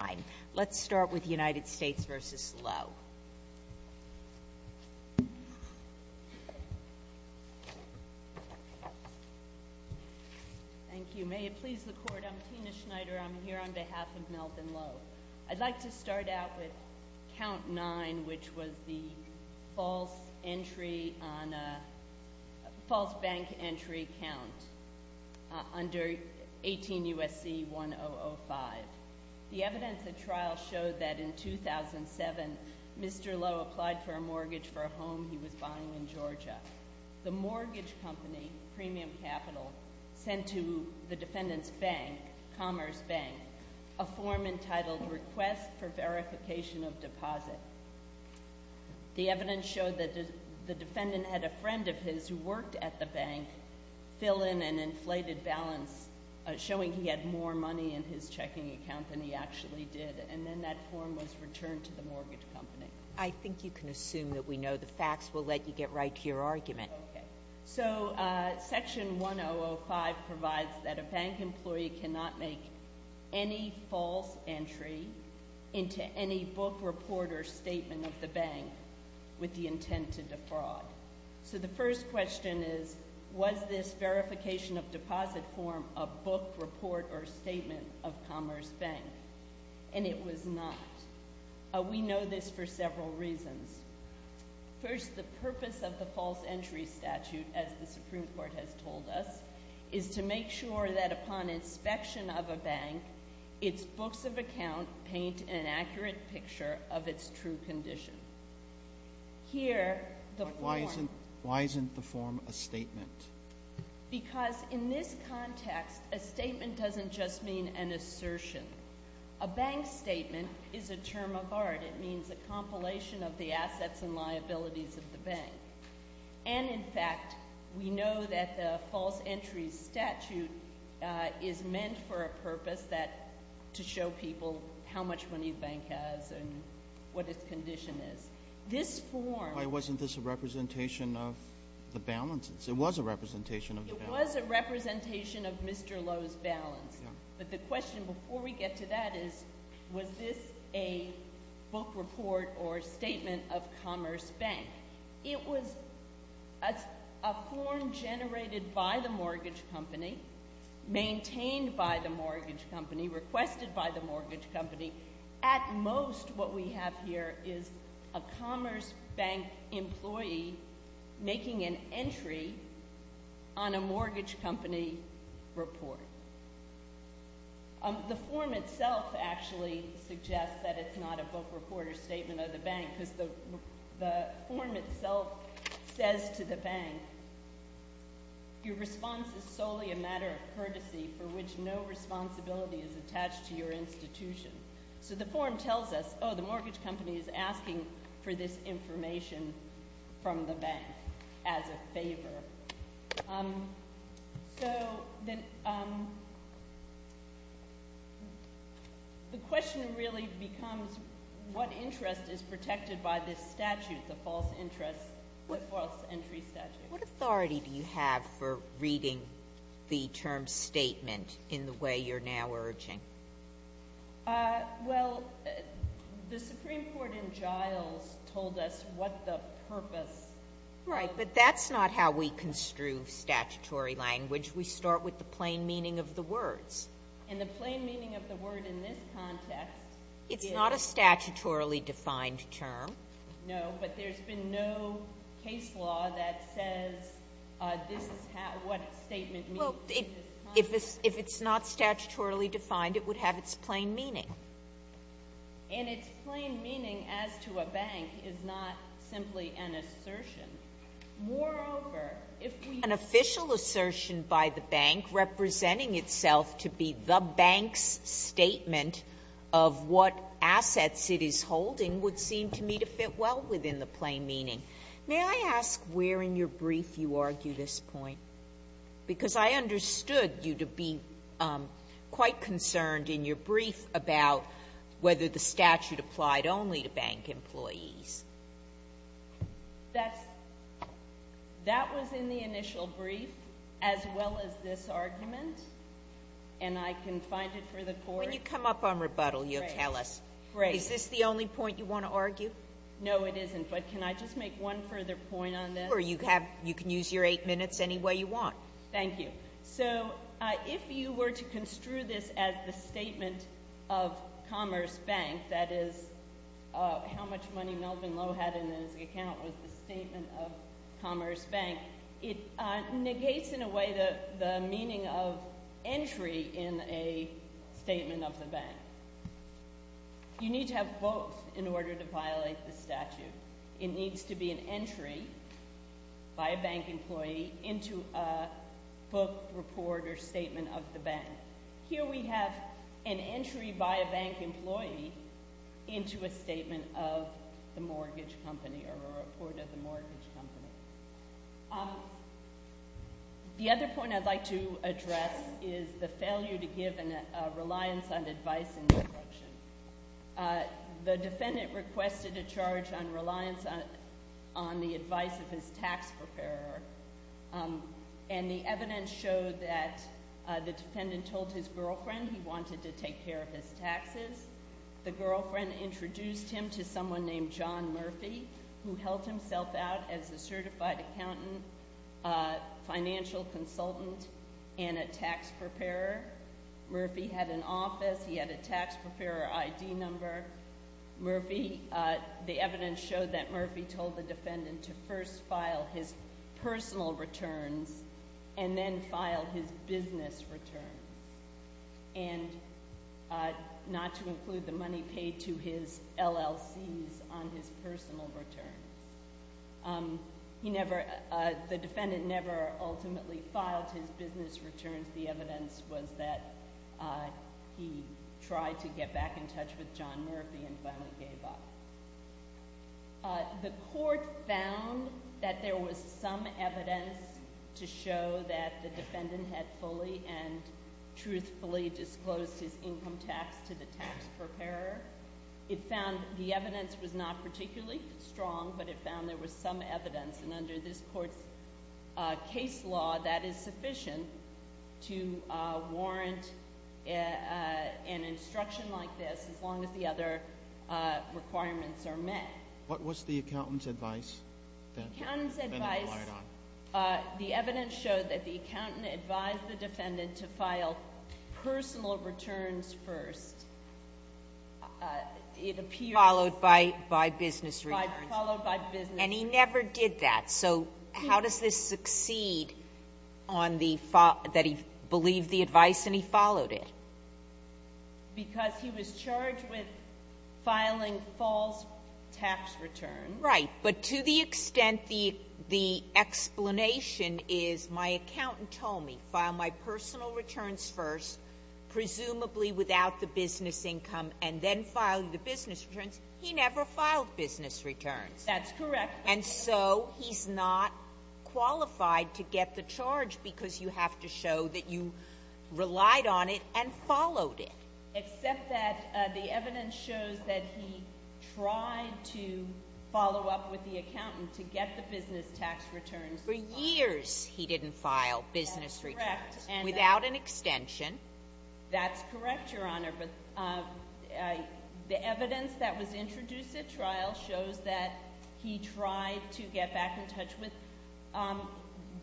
I'd like to start out with count 9 which was the false bank entry count under 18 U.S.C. 1005. The evidence at trial showed that in 2007, Mr. Lo applied for a mortgage for a home he was buying in Georgia. The mortgage company, Premium Capital, sent to the defendant's bank, Commerce Bank, a form entitled Request for Verification of Deposit. The evidence showed that the defendant had a friend of his who worked at the bank fill in an inflated balance showing he had more money in his checking account than he actually did. And then that form was returned to the mortgage company. I think you can assume that we know the facts. We'll let you get right to your argument. So section 1005 provides that a bank employee cannot make any false entry into any book report or statement of the bank with the intent to defraud. So the first question is, was this verification of deposit form a book report or statement of Commerce Bank? And it was not. We know this for several reasons. First, the purpose of the false entry statute, as the Supreme Court has told us, is to make sure that upon inspection of a bank, its books of account paint an accurate picture of its true condition. Here, the form— Why isn't the form a statement? Because in this context, a statement doesn't just mean an assertion. A bank statement is a term of art. It means a compilation of the assets and liabilities of the bank. And in fact, we know that the false entry statute is meant for a purpose that—to show people how much money the bank has and what its condition is. This form— Why wasn't this a representation of the balances? It was a representation of the balances. It was a representation of Mr. Lowe's balance. Yeah. But the question before we get to that is, was this a book report or statement of Commerce Bank? It was a form generated by the mortgage company, maintained by the mortgage company, requested by the mortgage company. At most, what we have here is a Commerce Bank employee making an entry on a mortgage company report. The form itself actually suggests that it's not a book report or statement of the bank, because the form itself says to the bank, your response is solely a matter of courtesy for which no responsibility is attached to your institution. So the form tells us, oh, the mortgage company is asking for this information from the bank as a favor. So the question really becomes, what interest is protected by this statute, the false interest—false entry statute? What authority do you have for reading the term statement in the way you're now urging? Well, the Supreme Court in Giles told us what the purpose of— Right, but that's not how we construe statutory language. We start with the plain meaning of the words. And the plain meaning of the word in this context is— It's not a statutorily defined term. No, but there's been no case law that says this is what a statement means. Well, if it's not statutorily defined, it would have its plain meaning. And its plain meaning as to a bank is not simply an assertion. Moreover, if we— An official assertion by the bank representing itself to be the bank's statement of what assets it is holding would seem to me to fit well within the plain meaning. May I ask where in your brief you argue this point? Because I understood you to be quite concerned in your brief about whether the statute applied only to bank employees. That's—that was in the initial brief as well as this argument. And I can find it for the Court— When you come up on rebuttal, you'll tell us. Is this the only point you want to argue? No, it isn't. But can I just make one further point on this? Or you have—you can use your eight minutes any way you want. Thank you. So if you were to construe this as the statement of Commerce Bank, that is, how much money Melvin Lowe had in his account was the statement of Commerce Bank, it negates, in a way, the meaning of entry in a statement of the bank. You need to have both in order to violate the statute. It needs to be an entry by a bank employee into a book, report, or statement of the bank. Here we have an entry by a bank employee into a statement of the mortgage company or a report of the mortgage company. The other point I'd like to address is the failure to give a reliance on advice and instruction. The defendant requested a charge on reliance on the advice of his tax preparer. And the evidence showed that the defendant told his girlfriend he wanted to take care of his taxes. The girlfriend introduced him to someone named John Murphy, who held himself out as a certified accountant, financial consultant, and a tax preparer. Murphy had an office. He had a tax preparer ID number. Murphy—the evidence showed that Murphy told the defendant to first file his personal returns and then file his business returns. And not to include the money paid to his LLCs on his personal returns. The defendant never ultimately filed his business returns. The evidence was that he tried to get back in touch with John Murphy and finally gave up. The court found that there was some evidence to show that the defendant had fully and truthfully disclosed his income tax to the tax preparer. It found the evidence was not particularly strong, but it found there was some evidence. And under this court's case law, that is sufficient to warrant an instruction like this as long as the other requirements are met. What was the accountant's advice that the defendant relied on? The evidence showed that the accountant advised the defendant to file personal returns first. It appears— Followed by business returns. Followed by business returns. And he never did that. So how does this succeed on the fact that he believed the advice and he followed it? Because he was charged with filing false tax returns. Right, but to the extent the explanation is my accountant told me, file my personal returns first, presumably without the business income, and then file the business returns. He never filed business returns. That's correct. And so he's not qualified to get the charge because you have to show that you relied on it and followed it. Except that the evidence shows that he tried to follow up with the accountant to get the business tax returns. For years he didn't file business returns. That's correct. Without an extension. That's correct, Your Honor. But the evidence that was introduced at trial shows that he tried to get back in touch with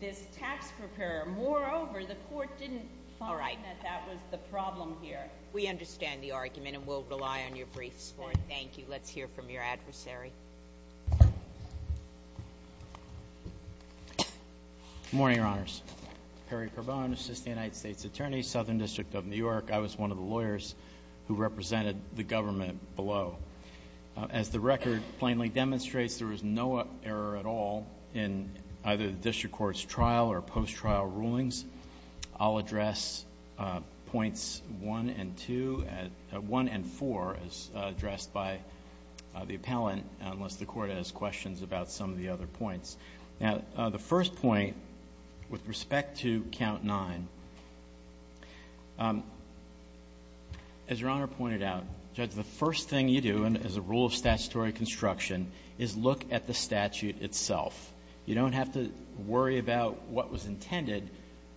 this tax preparer. Moreover, the court didn't find that that was the problem here. We understand the argument, and we'll rely on your briefs for it. Thank you. Let's hear from your adversary. Good morning, Your Honors. Perry Carbone, Assistant United States Attorney, Southern District of New York. I was one of the lawyers who represented the government below. As the record plainly demonstrates, there was no error at all in either the district court's trial or post-trial rulings. I'll address points 1 and 2, 1 and 4, as addressed by the appellant, unless the Court has questions about some of the other points. Now, the first point, with respect to Count 9, as Your Honor pointed out, Judge, the first thing you do as a rule of statutory construction is look at the statute itself. You don't have to worry about what was intended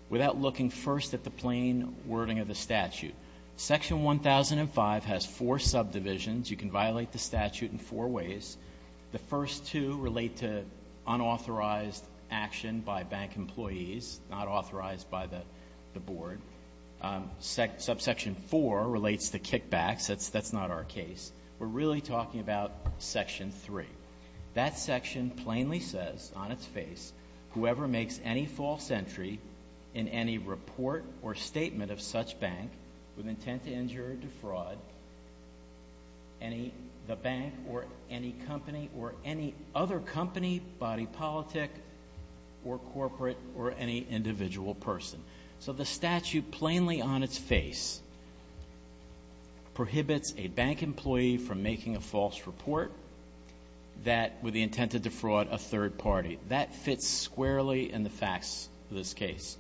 without looking first at the plain wording of the statute. Section 1005 has four subdivisions. You can violate the statute in four ways. The first two relate to unauthorized action by bank employees, not authorized by the board. Subsection 4 relates to kickbacks. That's not our case. We're really talking about Section 3. That section plainly says on its face, whoever makes any false entry in any report or statement of such bank with intent to injure or defraud the bank or any company or any other company, body politic, or corporate, or any individual person. So the statute plainly on its face prohibits a bank employee from making a false report with the intent to defraud a third party. That fits squarely in the facts of this case.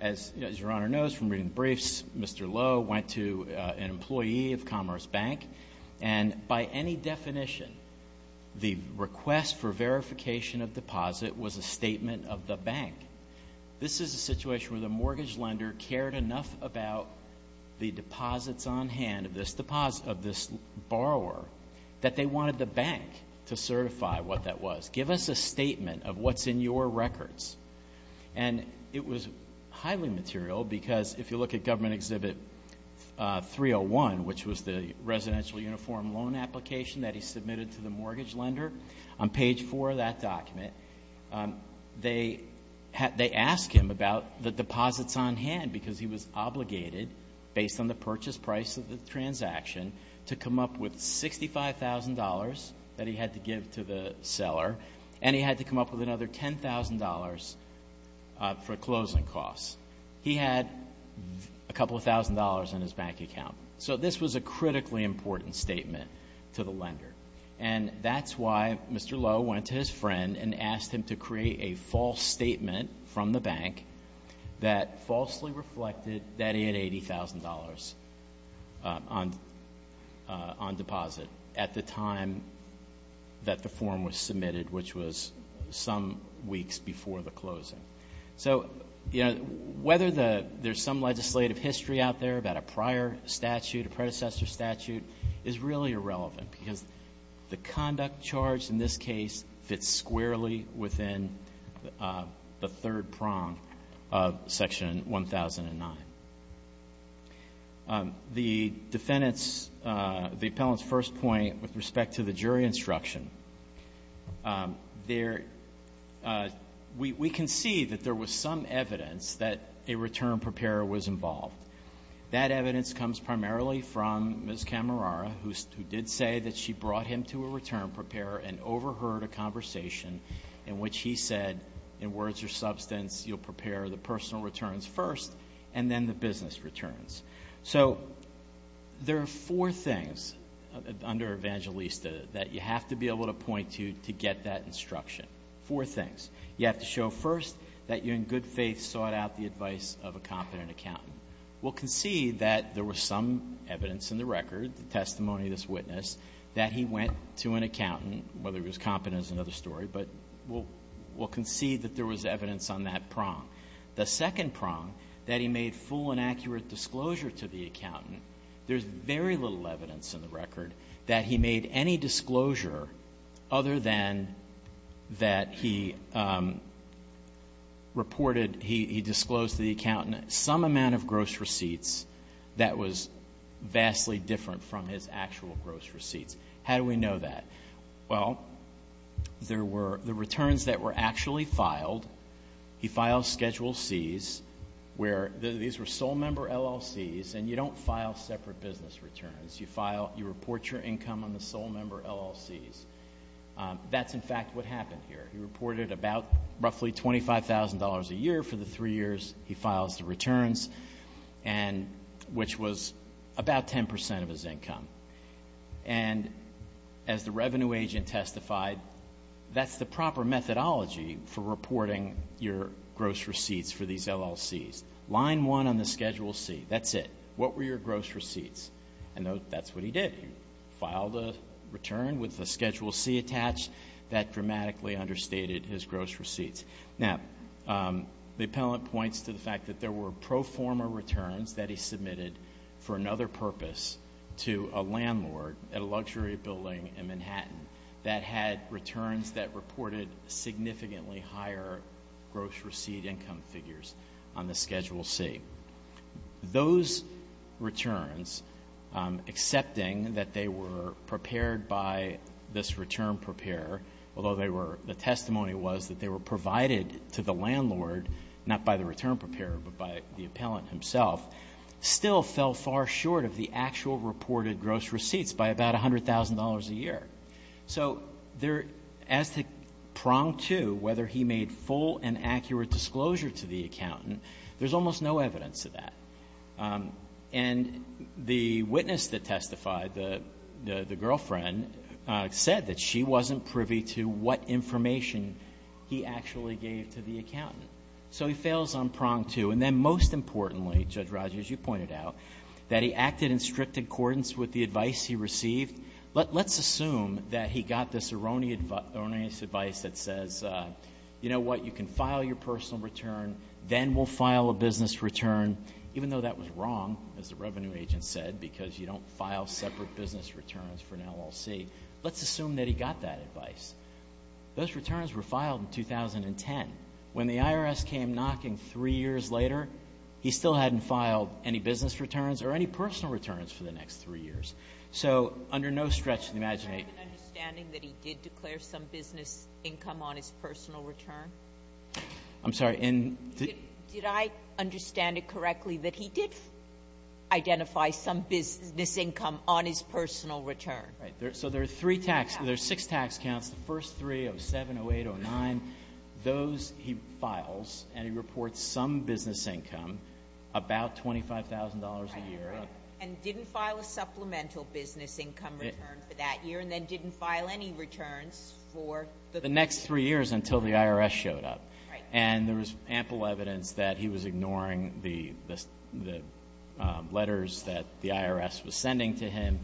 As Your Honor knows from reading the briefs, Mr. Lowe went to an employee of Commerce Bank, and by any definition, the request for verification of deposit was a statement of the bank. This is a situation where the mortgage lender cared enough about the deposits on hand of this borrower that they wanted the bank to certify what that was. Give us a statement of what's in your records. And it was highly material because if you look at Government Exhibit 301, which was the residential uniform loan application that he submitted to the mortgage lender, on page 4 of that document, they ask him about the deposits on hand because he was obligated, based on the purchase price of the transaction, to come up with $65,000 that he had to give to the seller, and he had to come up with another $10,000 for closing costs. He had a couple of thousand dollars in his bank account. So this was a critically important statement to the lender. And that's why Mr. Lowe went to his friend and asked him to create a false statement from the bank that falsely reflected that he had $80,000 on deposit at the time that the form was submitted, which was some weeks before the closing. So, you know, whether there's some legislative history out there about a prior statute, a predecessor statute, is really irrelevant because the conduct charge in this case fits squarely within the third prong of Section 1009. The defendant's, the appellant's first point with respect to the jury instruction, there we can see that there was some evidence that a return preparer was involved. That evidence comes primarily from Ms. Camerara, who did say that she brought him to a return preparer and overheard a conversation in which he said, in words or substance, you'll prepare the personal returns first and then the business returns. So there are four things under Evangelista that you have to be able to point to to get that instruction, four things. You have to show first that you in good faith sought out the advice of a competent accountant. We'll concede that there was some evidence in the record, the testimony of this witness, that he went to an accountant, whether he was competent is another story, but we'll concede that there was evidence on that prong. The second prong, that he made full and accurate disclosure to the accountant. There's very little evidence in the record that he made any disclosure other than that he reported, he disclosed to the accountant some amount of gross receipts that was vastly different from his actual gross receipts. How do we know that? Well, there were the returns that were actually filed. He files Schedule Cs, where these were sole member LLCs, and you don't file separate business returns. You file, you report your income on the sole member LLCs. That's, in fact, what happened here. He reported about roughly $25,000 a year for the three years he files the returns, which was about 10% of his income. And as the revenue agent testified, that's the proper methodology for reporting your gross receipts for these LLCs. Line one on the Schedule C, that's it. What were your gross receipts? And that's what he did. He filed a return with a Schedule C attached. That dramatically understated his gross receipts. Now, the appellant points to the fact that there were pro forma returns that he submitted for another purpose to a landlord at a luxury building in Manhattan that had returns that reported significantly higher gross receipt income figures on the Schedule C. Those returns, accepting that they were prepared by this return preparer, although the testimony was that they were provided to the landlord, not by the return preparer, but by the appellant himself, still fell far short of the actual reported gross receipts by about $100,000 a year. So there, as to prong two, whether he made full and accurate disclosure to the accountant, there's almost no evidence of that. And the witness that testified, the girlfriend, said that she wasn't privy to what information he actually gave to the accountant. So he fails on prong two. And then most importantly, Judge Rogers, you pointed out, that he acted in strict accordance with the advice he received. Let's assume that he got this erroneous advice that says, you know what, you can file your personal return, then we'll file a business return, even though that was wrong, as the revenue agent said, because you don't file separate business returns for an LLC. Let's assume that he got that advice. Those returns were filed in 2010. When the IRS came knocking three years later, he still hadn't filed any business returns or any personal returns for the next three years. So under no stretch of the imagination — Did I have an understanding that he did declare some business income on his personal return? I'm sorry. Did I understand it correctly that he did identify some business income on his personal return? Right. So there are three tax — there are six tax counts, the first three, 07, 08, 09. Those he files, and he reports some business income, about $25,000 a year. And didn't file a supplemental business income return for that year, and then didn't file any returns for the — The next three years until the IRS showed up. Right. And there was ample evidence that he was ignoring the letters that the IRS was sending to him,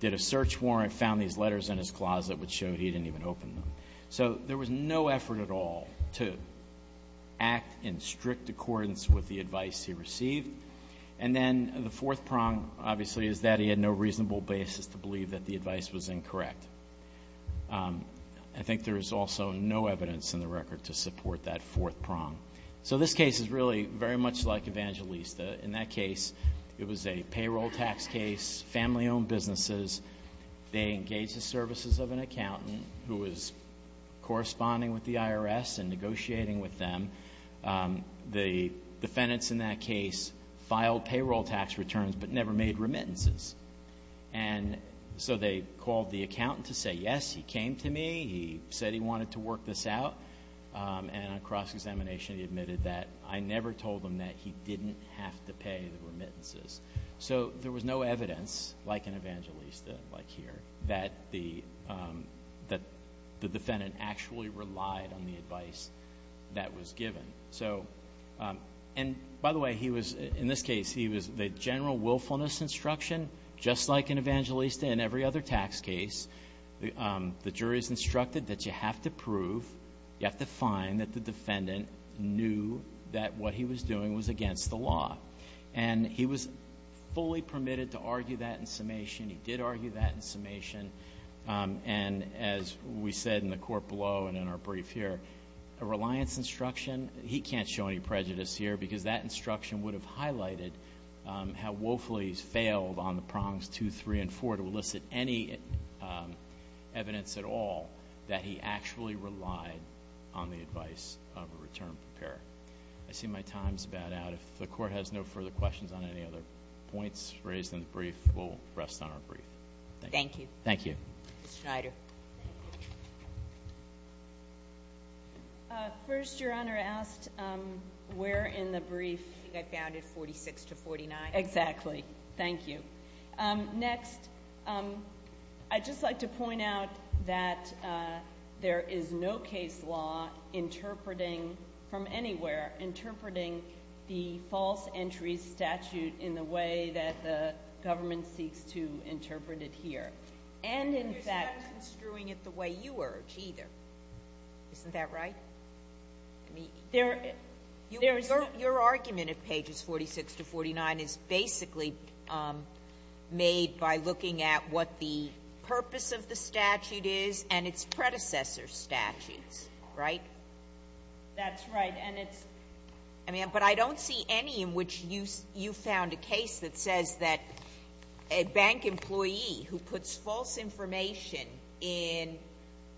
did a search warrant, found these letters in his closet, which showed he didn't even open them. So there was no effort at all to act in strict accordance with the advice he received. And then the fourth prong, obviously, is that he had no reasonable basis to believe that the advice was incorrect. I think there is also no evidence in the record to support that fourth prong. So this case is really very much like Evangelista. In that case, it was a payroll tax case, family-owned businesses. They engaged the services of an accountant who was corresponding with the IRS and negotiating with them. The defendants in that case filed payroll tax returns but never made remittances. And so they called the accountant to say, yes, he came to me. He said he wanted to work this out. And on cross-examination, he admitted that I never told him that he didn't have to pay the remittances. So there was no evidence, like in Evangelista, like here, that the defendant actually relied on the advice that was given. So, and by the way, he was, in this case, he was the general willfulness instruction, just like in Evangelista and every other tax case. The jury is instructed that you have to prove, you have to find that the defendant knew that what he was doing was against the law. And he was fully permitted to argue that in summation. He did argue that in summation. And as we said in the court below and in our brief here, a reliance instruction, he can't show any prejudice here because that instruction would have highlighted how woefully he's failed on the prongs two, three, and four to elicit any evidence at all that he actually relied on the advice of a return preparer. I see my time's about out. If the court has no further questions on any other points raised in the brief, we'll rest on our brief. Thank you. Thank you. Ms. Schneider. First, Your Honor, I asked where in the brief. I think I found it 46 to 49. Exactly. Thank you. Next, I'd just like to point out that there is no case law interpreting from anywhere, interpreting the false entries statute in the way that the government seeks to interpret it here. And, in fact, You're not construing it the way you urge either. Isn't that right? Your argument at pages 46 to 49 is basically made by looking at what the purpose of the statute is and its predecessor statutes, right? That's right. But I don't see any in which you found a case that says that a bank employee who puts false information in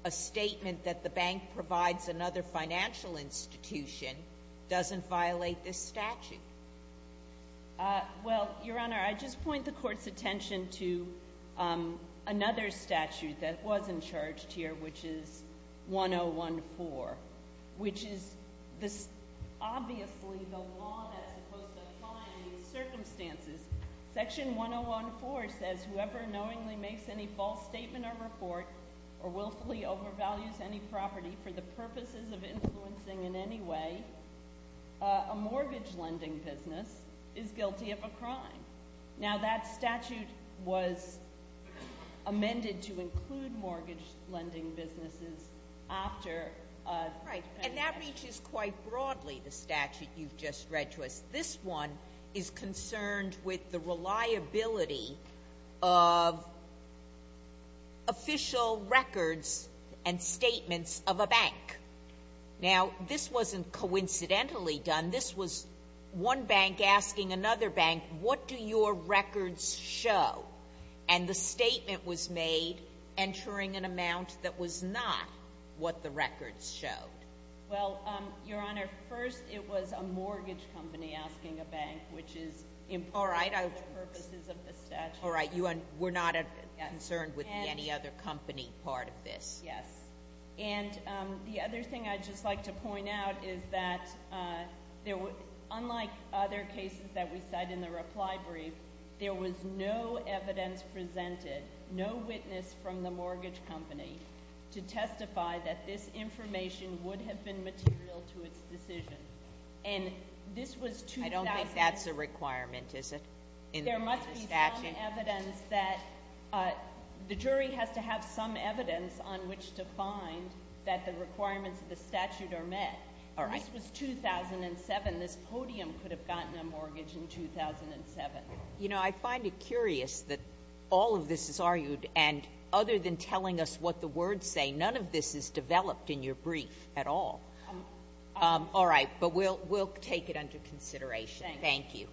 a statement that the bank provides another financial institution doesn't violate this statute. Well, Your Honor, I just point the court's attention to another statute that wasn't charged here, which is 1014, which is obviously the law that's supposed to apply in these circumstances. Section 1014 says whoever knowingly makes any false statement or report or willfully overvalues any property for the purposes of influencing in any way a mortgage lending business is guilty of a crime. Now, that statute was amended to include mortgage lending businesses after Right, and that reaches quite broadly, the statute you've just read to us. This one is concerned with the reliability of official records and statements of a bank. Now, this wasn't coincidentally done. This was one bank asking another bank, what do your records show? And the statement was made entering an amount that was not what the records showed. Well, Your Honor, first it was a mortgage company asking a bank, which is important for the purposes of the statute. All right, we're not concerned with any other company part of this. Yes. And the other thing I'd just like to point out is that unlike other cases that we cite in the reply brief, there was no evidence presented, no witness from the mortgage company, to testify that this information would have been material to its decision. And this was 2000 I don't think that's a requirement, is it, in the statute? There must be some evidence that the jury has to have some evidence on which to find that the requirements of the statute are met. All right. This was 2007. This podium could have gotten a mortgage in 2007. You know, I find it curious that all of this is argued, and other than telling us what the words say, none of this is developed in your brief at all. All right, but we'll take it under consideration. Thank you.